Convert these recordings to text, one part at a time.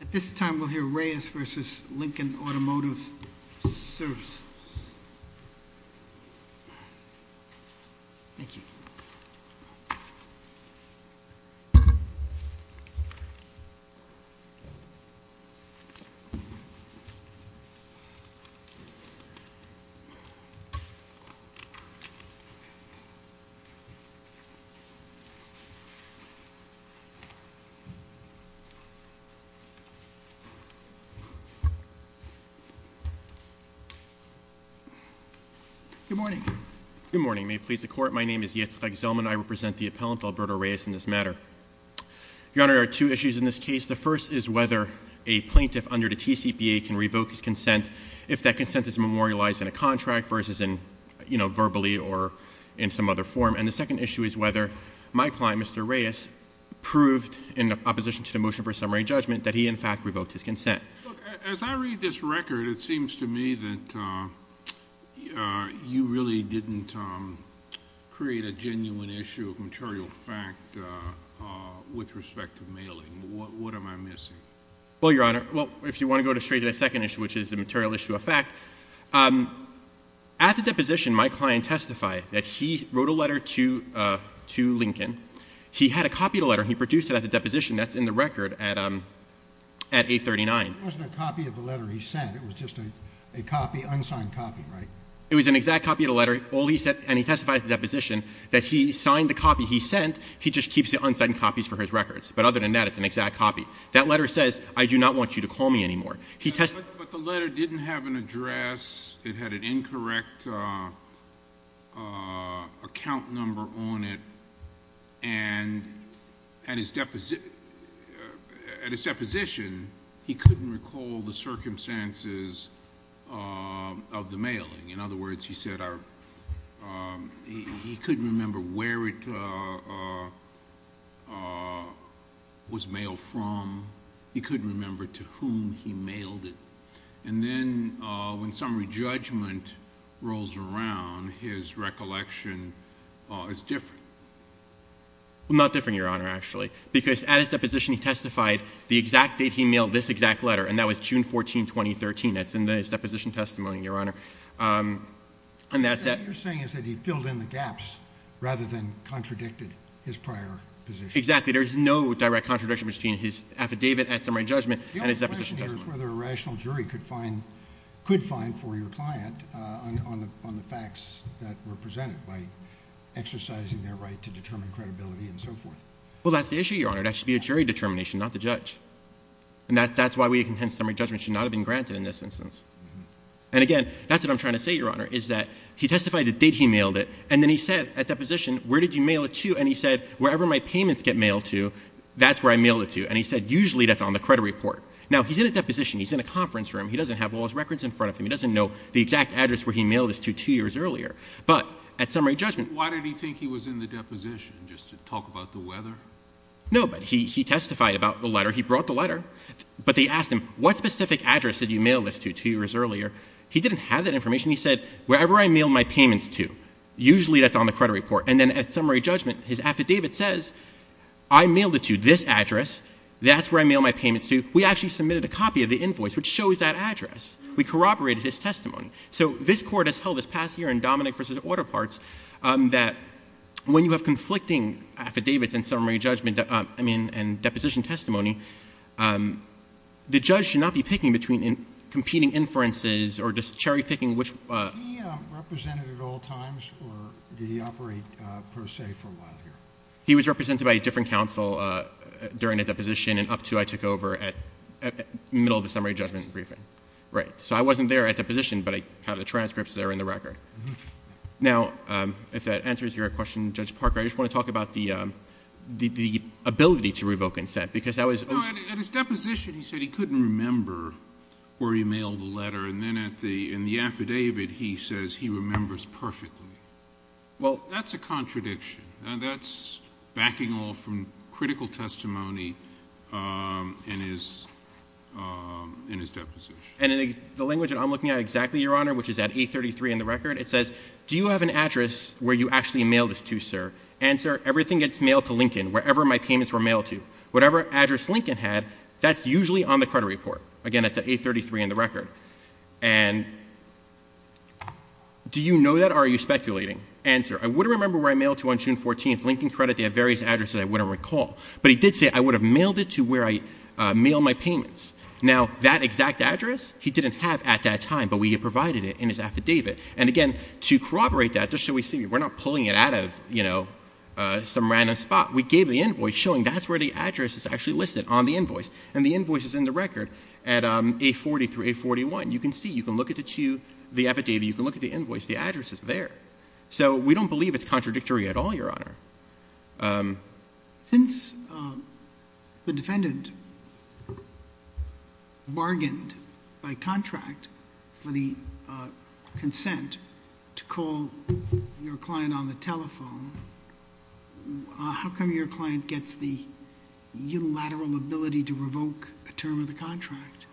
At this time, we'll hear Reyes versus Lincoln Automotive Services. Thank you. Good morning. Good morning. May it please the court, my name is Yitzhak Zellman. I represent the appellant Alberto Reyes in this matter. Your Honor, there are two issues in this case. The first is whether a plaintiff under the TCPA can revoke his consent if that consent is memorialized in a contract versus in verbally or in some other form. And the second issue is whether my client, Mr. Reyes, proved in opposition to the motion for a summary judgment that he, in fact, revoked his consent. Look, as I read this record, it seems to me that you really didn't create a genuine issue of material fact with respect to mailing. What am I missing? Well, Your Honor, if you want to go straight to the second issue, which is the material issue of fact, at the deposition, my client testified that he wrote a letter to Lincoln, he had a copy of the letter, and he produced it at the deposition that's in the record at 839. It wasn't a copy of the letter he sent, it was just a copy, unsigned copy, right? It was an exact copy of the letter, and he testified at the deposition that he signed the copy he sent, he just keeps the unsigned copies for his records. But other than that, it's an exact copy. That letter says, I do not want you to call me anymore. But the letter didn't have an address, it had an incorrect account number on it, and at his deposition, he couldn't recall the circumstances of the mailing. In other words, he said he couldn't remember where it was mailed from. He couldn't remember to whom he mailed it. And then, when summary judgment rolls around, his recollection is different. Well, not different, Your Honor, actually. Because at his deposition, he testified the exact date he mailed this exact letter, and that was June 14, 2013. That's in his deposition testimony, Your Honor. And that's it. What you're saying is that he filled in the gaps rather than contradicted his prior position. Exactly, there's no direct contradiction between his affidavit at summary judgment and his deposition testimony. The only question here is whether a rational jury could find for your client on the facts that were presented by exercising their right to determine credibility and so forth. Well, that's the issue, Your Honor. That should be a jury determination, not the judge. And that's why we contend summary judgment should not have been granted in this instance. And again, that's what I'm trying to say, Your Honor, is that he testified the date he mailed it, and then he said at deposition, where did you mail it to? And he said, wherever my payments get mailed to, that's where I mailed it to. And he said, usually that's on the credit report. Now, he's in a deposition. He's in a conference room. He doesn't have all his records in front of him. He doesn't know the exact address where he mailed this to two years earlier. But at summary judgment- Why did he think he was in the deposition, just to talk about the weather? No, but he testified about the letter. He brought the letter. But they asked him, what specific address did you mail this to two years earlier? He didn't have that information. He said, wherever I mail my payments to, usually that's on the credit report. And then at summary judgment, his affidavit says, I mailed it to this address. That's where I mail my payments to. We actually submitted a copy of the invoice, which shows that address. We corroborated his testimony. So this court has held this past year in Dominic versus Order Parts, that when you have conflicting affidavits and summary judgment, I mean, and deposition testimony, the judge should not be picking between competing inferences or just cherry picking which- Was he represented at all times, or did he operate per se for a while here? He was represented by a different counsel during a deposition and up to I took over at middle of the summary judgment briefing. Right, so I wasn't there at deposition, but I have the transcripts that are in the record. Now, if that answers your question, Judge Parker, I just want to talk about the ability to revoke consent, because that was- At his deposition, he said he couldn't remember where he mailed the letter. And then in the affidavit, he says he remembers perfectly. Well, that's a contradiction. That's backing off from critical testimony in his deposition. And in the language that I'm looking at exactly, Your Honor, which is at 833 in the record, it says, do you have an address where you actually mail this to, sir? And, sir, everything gets mailed to Lincoln, wherever my payments were mailed to. Whatever address Lincoln had, that's usually on the credit report. Again, at the 833 in the record. And do you know that, or are you speculating? And, sir, I would remember where I mailed to on June 14th. Lincoln Credit, they have various addresses I wouldn't recall. But he did say, I would have mailed it to where I mail my payments. Now, that exact address, he didn't have at that time, but we provided it in his affidavit. And again, to corroborate that, just so we see, we're not pulling it out of some random spot. We gave the invoice showing that's where the address is actually listed on the invoice. And the invoice is in the record at 840 through 841. You can see, you can look at the affidavit, you can look at the invoice, the address is there. So, we don't believe it's contradictory at all, Your Honor. Since the defendant bargained by contract for the consent to call your client on the telephone, how come your client gets the unilateral ability to revoke a term of the contract?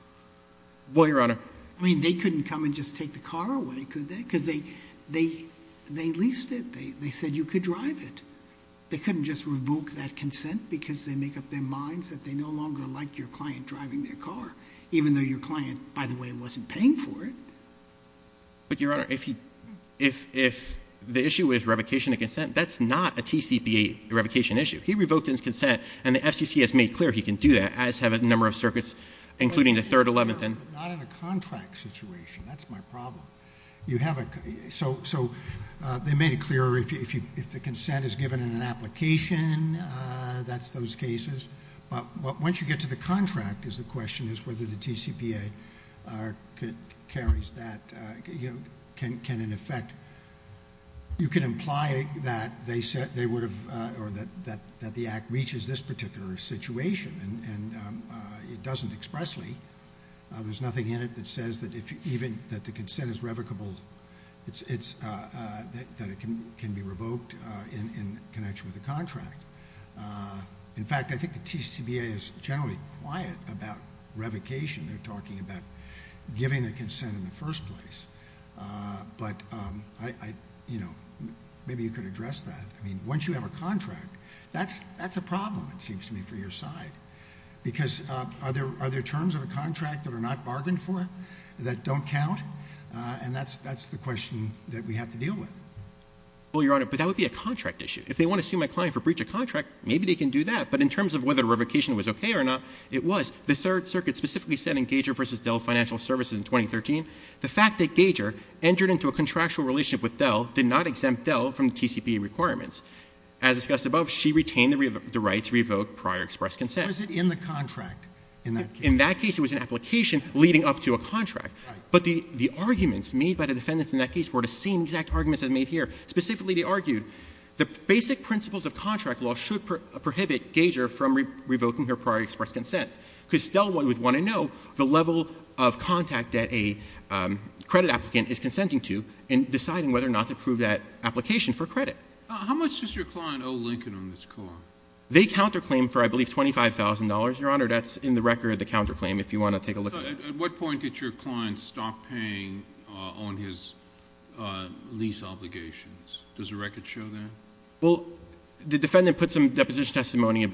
Well, Your Honor. I mean, they couldn't come and just take the car away, could they? because they leased it, they said you could drive it. They couldn't just revoke that consent because they make up their minds that they no longer like your client driving their car. Even though your client, by the way, wasn't paying for it. But Your Honor, if the issue is revocation of consent, that's not a TCPA revocation issue. He revoked his consent, and the FCC has made clear he can do that, as have a number of circuits, including the 3rd, 11th, and- Not in a contract situation, that's my problem. You have a, so they made it clear if the consent is given in an application, that's those cases. But once you get to the contract, is the question is whether the TCPA carries that, can in effect, you can imply that they said they would have, or that the act reaches this particular situation, and it doesn't expressly. There's nothing in it that says that even if the consent is revocable, that it can be revoked in connection with the contract. In fact, I think the TCPA is generally quiet about revocation. They're talking about giving a consent in the first place. But maybe you could address that. I mean, once you have a contract, that's a problem, it seems to me, for your side. Because are there terms of a contract that are not bargained for that don't count? And that's the question that we have to deal with. Well, Your Honor, but that would be a contract issue. If they want to sue my client for breach of contract, maybe they can do that. But in terms of whether revocation was okay or not, it was. The third circuit specifically said in Gager versus Dell Financial Services in 2013, the fact that Gager entered into a contractual relationship with Dell did not exempt Dell from TCPA requirements. As discussed above, she retained the right to revoke prior expressed consent. Was it in the contract? In that case, it was an application leading up to a contract. But the arguments made by the defendants in that case were the same exact arguments as made here. Specifically, they argued the basic principles of contract law should prohibit Gager from revoking her prior expressed consent. because Dell would want to know the level of contact that a credit applicant is consenting to in deciding whether or not to approve that application for credit. How much does your client owe Lincoln on this call? They counterclaim for, I believe, $25,000. Your Honor, that's in the record, the counterclaim, if you want to take a look at it. At what point did your client stop paying on his lease obligations? Does the record show that? Well, the defendant put some deposition testimony in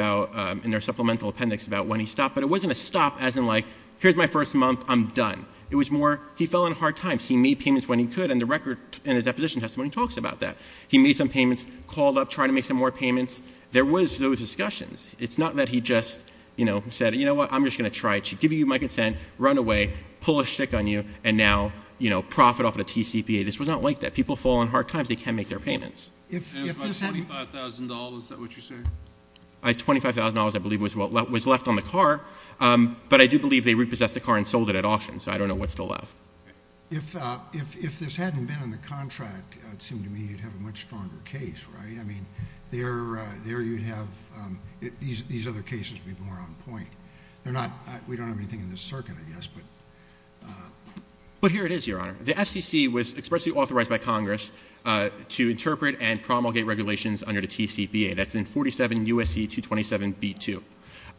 their supplemental appendix about when he stopped. But it wasn't a stop as in like, here's my first month, I'm done. It was more, he fell on hard times. He made payments when he could, and the record in the deposition testimony talks about that. He made some payments, called up, tried to make some more payments. There was those discussions. It's not that he just said, you know what, I'm just going to try to give you my consent, run away, pull a shtick on you, and now profit off of the TCPA. This was not like that. People fall on hard times, they can't make their payments. If this hadn't- And it was like $25,000, is that what you're saying? $25,000, I believe, was left on the car, but I do believe they repossessed the car and sold it at auction, so I don't know what's still left. If this hadn't been on the contract, it seemed to me you'd have a much stronger case, right? I mean, there you'd have, these other cases would be more on point. They're not, we don't have anything in this circuit, I guess, but. But here it is, Your Honor. The FCC was expressly authorized by Congress to interpret and promulgate regulations under the TCPA. That's in 47 U.S.C. 227b2,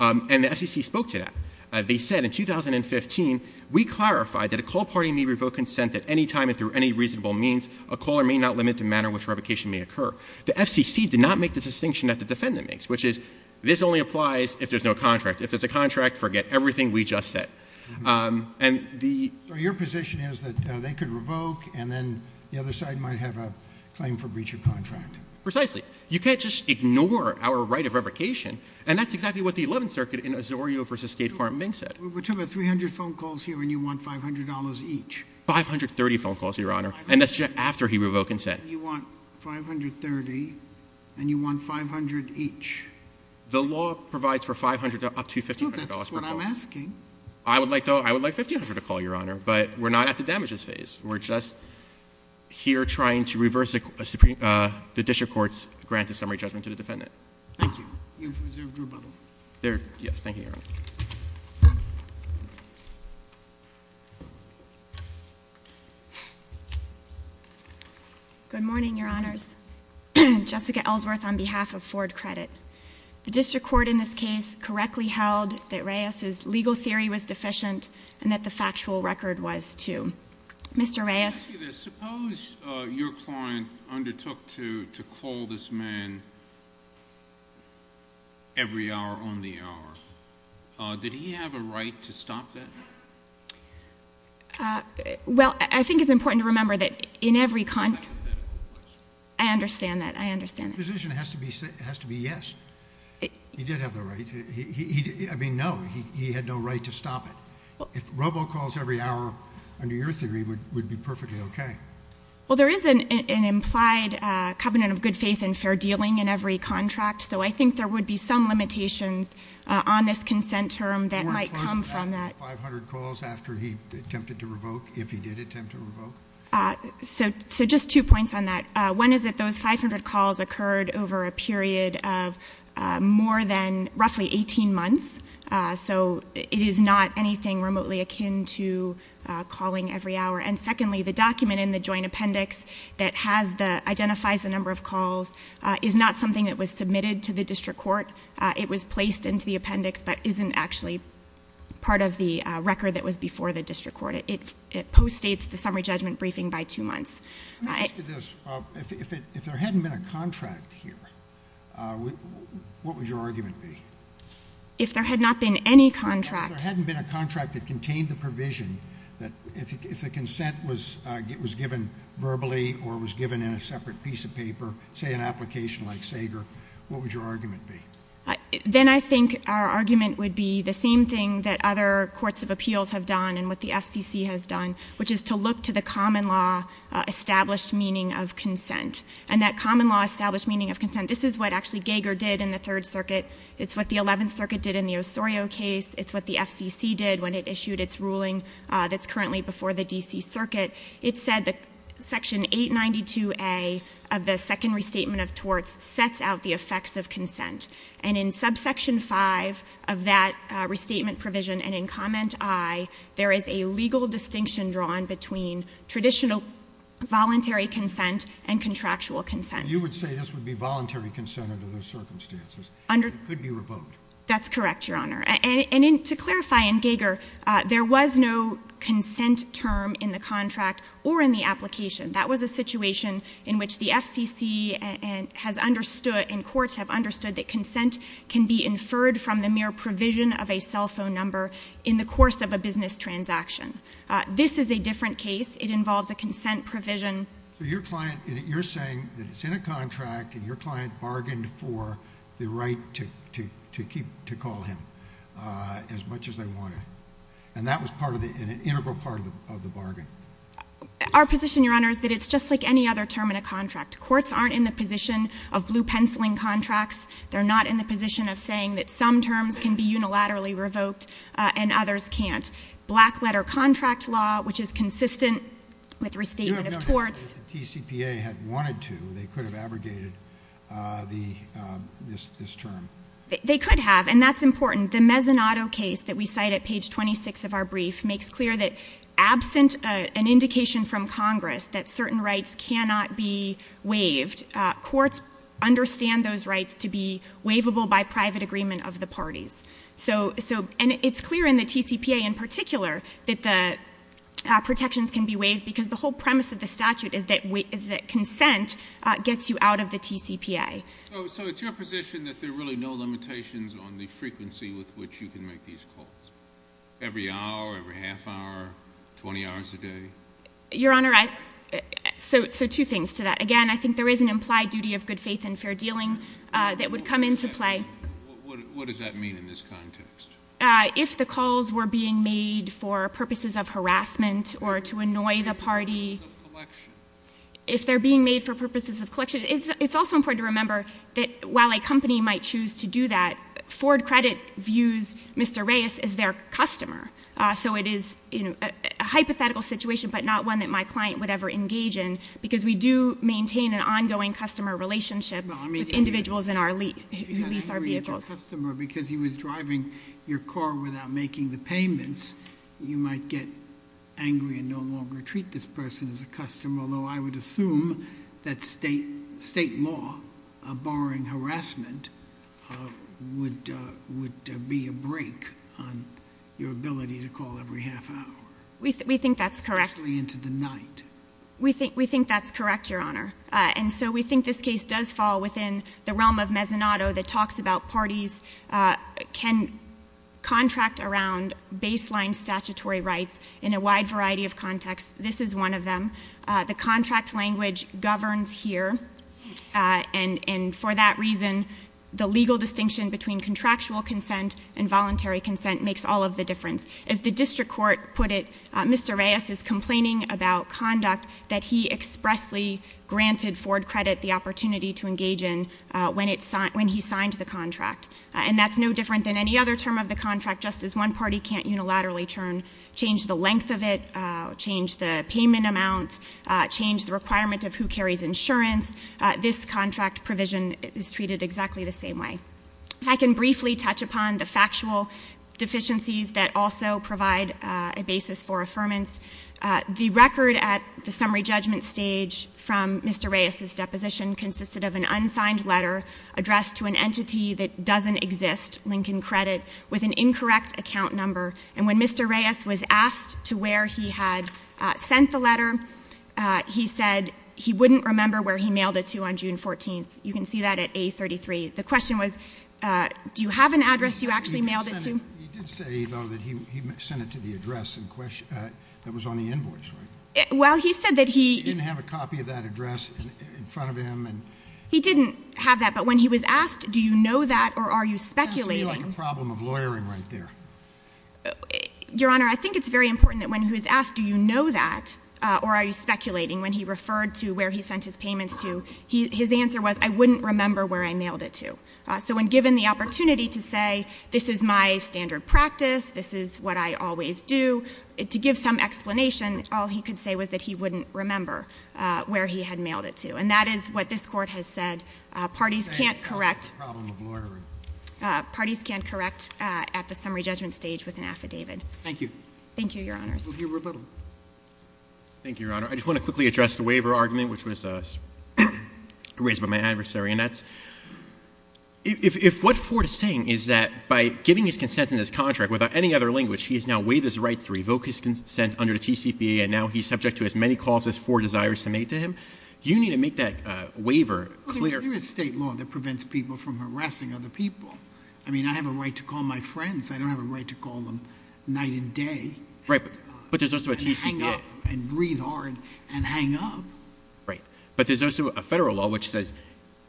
and the FCC spoke to that. They said in 2015, we clarified that a call party may revoke consent at any time and through any reasonable means, a caller may not limit the manner in which revocation may occur. The FCC did not make the distinction that the defendant makes, which is, this only applies if there's no contract. If there's a contract, forget everything we just said. And the- So your position is that they could revoke, and then the other side might have a claim for breach of contract? Precisely. You can't just ignore our right of revocation, and that's exactly what the 11th Circuit in Osorio v. State Farm, Mink said. We took about 300 phone calls here, and you want $500 each. 530 phone calls, Your Honor, and that's just after he revoked consent. You said you want 530, and you want 500 each. The law provides for 500 up to $1,500 per call. No, that's what I'm asking. I would like $1,500 a call, Your Honor, but we're not at the damages phase. We're just here trying to reverse the district court's grant of summary judgment to the defendant. Thank you. You've observed rebuttal. There, yes, thank you, Your Honor. Good morning, Your Honors. Jessica Ellsworth on behalf of Ford Credit. The district court in this case correctly held that Reyes's legal theory was deficient, and that the factual record was too. Mr. Reyes. Let me ask you this. Suppose your client undertook to call this man every hour on the hour, did he have a right to stop that? Well, I think it's important to remember that in every contract- That's a hypothetical question. I understand that. I understand that. The position has to be yes, he did have the right to, I mean, no, he had no right to stop it. If robo calls every hour, under your theory, would be perfectly okay. Well, there is an implied covenant of good faith and fair dealing in every contract, so I think there would be some limitations on this consent term that might come from that. 500 calls after he attempted to revoke, if he did attempt to revoke? So just two points on that. One is that those 500 calls occurred over a period of more than roughly 18 months. So it is not anything remotely akin to calling every hour. And secondly, the document in the joint appendix that identifies the number of calls is not something that was submitted to the district court. It was placed into the appendix, but isn't actually part of the record that was before the district court. It post-states the summary judgment briefing by two months. Let me ask you this. If there hadn't been a contract here, what would your argument be? If there had not been any contract- If the consent was given verbally or was given in a separate piece of paper, say an application like Sager, what would your argument be? Then I think our argument would be the same thing that other courts of appeals have done and what the FCC has done, which is to look to the common law established meaning of consent. And that common law established meaning of consent, this is what actually Gager did in the Third Circuit. It's what the Eleventh Circuit did in the Osorio case. It's what the FCC did when it issued its ruling that's currently before the DC circuit. It said that section 892A of the second restatement of torts sets out the effects of consent. And in subsection five of that restatement provision and in comment I, there is a legal distinction drawn between traditional voluntary consent and contractual consent. You would say this would be voluntary consent under those circumstances. Under- It could be revoked. That's correct, your honor. And to clarify in Gager, there was no consent term in the contract or in the application. That was a situation in which the FCC has understood, and courts have understood, that consent can be inferred from the mere provision of a cell phone number in the course of a business transaction. This is a different case. It involves a consent provision. So your client, you're saying that it's in a contract and your client bargained for the right to call him as much as they wanted. And that was part of the, an integral part of the bargain. Our position, your honor, is that it's just like any other term in a contract. Courts aren't in the position of blue penciling contracts. They're not in the position of saying that some terms can be unilaterally revoked and others can't. Black letter contract law, which is consistent with restatement of torts. If the TCPA had wanted to, they could have abrogated this term. They could have, and that's important. The Mezzanotto case that we cite at page 26 of our brief makes clear that absent an indication from Congress that certain rights cannot be waived. Courts understand those rights to be waivable by private agreement of the parties. So, and it's clear in the TCPA in particular that the protections can be waived, because the whole premise of the statute is that consent gets you out of the TCPA. So it's your position that there are really no limitations on the frequency with which you can make these calls? Every hour, every half hour, 20 hours a day? Your honor, so two things to that. Again, I think there is an implied duty of good faith and fair dealing that would come into play. What does that mean in this context? If the calls were being made for purposes of harassment or to annoy the party. If they're being made for purposes of collection, it's also important to remember that while a company might choose to do that, Ford Credit views Mr. Reyes as their customer. So it is a hypothetical situation, but not one that my client would ever engage in, because we do maintain an ongoing customer relationship with individuals in our lease, lease our vehicles. If you get angry at your customer because he was driving your car without making the payments, you might get angry and no longer treat this person as a customer. Although I would assume that state law, barring harassment, would be a break on your ability to call every half hour. We think that's correct. Especially into the night. We think that's correct, your honor. And so we think this case does fall within the realm of Mezzanotto that talks about parties can contract around baseline statutory rights in a wide variety of contexts. This is one of them. The contract language governs here and for that reason the legal distinction between contractual consent and voluntary consent makes all of the difference. As the district court put it, Mr. Reyes is complaining about conduct that he expressly granted Ford Credit the opportunity to engage in when he signed the contract. And that's no different than any other term of the contract. Just as one party can't unilaterally turn, change the length of it, change the payment amount, change the requirement of who carries insurance, this contract provision is treated exactly the same way. I can briefly touch upon the factual deficiencies that also provide a basis for affirmance. The record at the summary judgment stage from Mr. Reyes' deposition consisted of an unsigned letter addressed to an entity that doesn't exist, Lincoln Credit, with an incorrect account number. And when Mr. Reyes was asked to where he had sent the letter, he said he wouldn't remember where he mailed it to on June 14th. You can see that at A33. The question was, do you have an address you actually mailed it to? He did say, though, that he sent it to the address that was on the invoice, right? Well, he said that he- He didn't have a copy of that address in front of him and- He didn't have that, but when he was asked, do you know that or are you speculating- That's really like a problem of lawyering right there. Your Honor, I think it's very important that when he was asked, do you know that or are you speculating, when he referred to where he sent his payments to, his answer was, I wouldn't remember where I mailed it to. So when given the opportunity to say, this is my standard practice, this is what I always do, to give some explanation, all he could say was that he wouldn't remember where he had mailed it to. And that is what this court has said. Parties can't correct- Problem of lawyering. Parties can't correct at the summary judgment stage with an affidavit. Thank you. Thank you, your honors. Your rebuttal. Thank you, your honor. Your honor, I just want to quickly address the waiver argument, which was raised by my adversary. And that's, if what Ford is saying is that by giving his consent in this contract without any other language, he has now waived his rights to revoke his consent under the TCPA, and now he's subject to as many clauses as Ford desires to make to him. You need to make that waiver clear. Well, there is state law that prevents people from harassing other people. I mean, I have a right to call my friends, I don't have a right to call them night and day. Right, but there's also a TCPA. And hang up, and breathe hard, and hang up. Right, but there's also a federal law which says,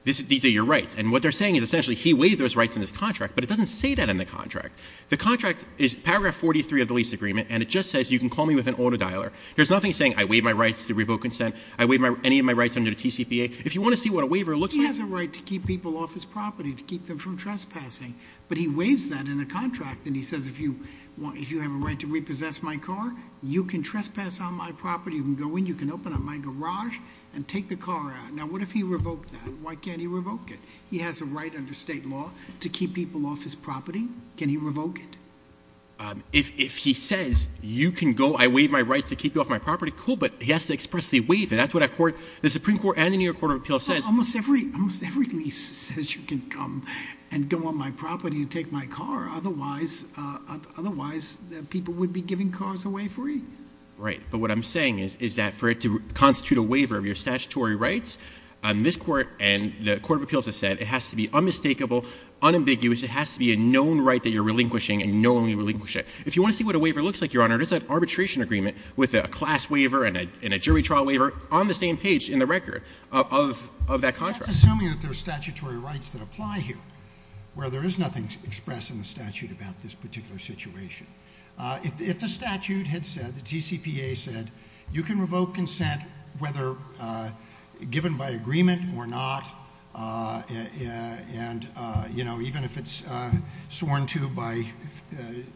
these are your rights. And what they're saying is essentially he waived those rights in this contract, but it doesn't say that in the contract. The contract is paragraph 43 of the lease agreement, and it just says you can call me with an auto dialer. There's nothing saying I waive my rights to revoke consent, I waive any of my rights under the TCPA. If you want to see what a waiver looks like- He has a right to keep people off his property, to keep them from trespassing. But he waives that in a contract, and he says, if you have a right to repossess my car, you can trespass on my property. You can go in, you can open up my garage, and take the car out. Now, what if he revoked that? Why can't he revoke it? He has a right under state law to keep people off his property. Can he revoke it? If he says, you can go, I waive my rights to keep you off my property, cool, but he has to express the waive. And that's what the Supreme Court and the New York Court of Appeals says. Almost everything he says, you can come and go on my property and take my car. Otherwise, people would be giving cars away for free. Right, but what I'm saying is that for it to constitute a waiver of your statutory rights, this court and the Court of Appeals has said it has to be unmistakable, unambiguous. It has to be a known right that you're relinquishing, and knowingly relinquish it. If you want to see what a waiver looks like, Your Honor, there's an arbitration agreement with a class waiver and that's assuming that there's statutory rights that apply here, where there is nothing expressed in the statute about this particular situation. If the statute had said, the TCPA said, you can revoke consent, whether given by agreement or not, and even if it's sworn to by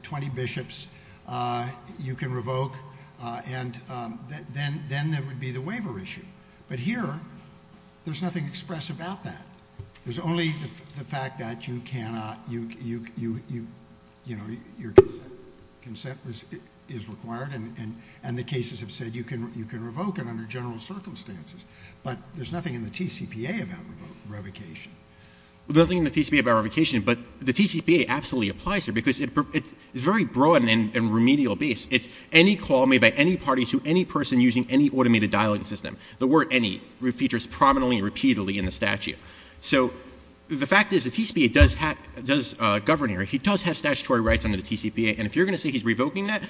20 bishops, you can revoke, and then there would be the waiver issue. But here, there's nothing expressed about that. There's only the fact that you cannot, your consent is required and the cases have said you can revoke it under general circumstances. But there's nothing in the TCPA about revocation. Nothing in the TCPA about revocation, but the TCPA absolutely applies here because it's very broad and remedial based. It's any call made by any party to any person using any automated dialing system. The word any features prominently and repeatedly in the statute. So the fact is the TCPA does govern here. He does have statutory rights under the TCPA, and if you're going to say he's revoking that,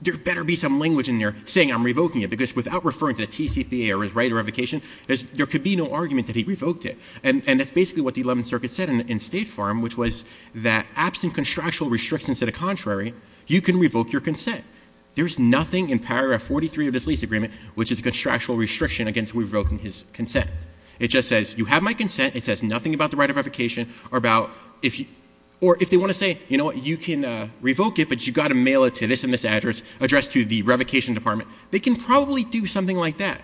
there better be some language in there saying I'm revoking it, because without referring to the TCPA or his right of revocation, there could be no argument that he revoked it. And that's basically what the 11th Circuit said in State Farm, which was that absent contractual restrictions to the contrary, you can revoke your consent. There's nothing in paragraph 43 of this lease agreement, which is a contractual restriction against revoking his consent. It just says, you have my consent. It says nothing about the right of revocation, or if they want to say, you know what, you can revoke it, but you've got to mail it to this and this address, address to the revocation department. They can probably do something like that.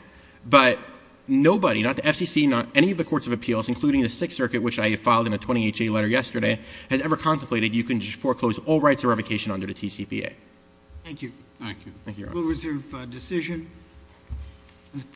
But nobody, not the FCC, not any of the courts of appeals, including the Sixth Circuit, which I filed in a 28-J letter yesterday, has ever contemplated you can just foreclose all rights of revocation under the TCPA. Thank you. Thank you. Thank you, Your Honor. We'll reserve decision.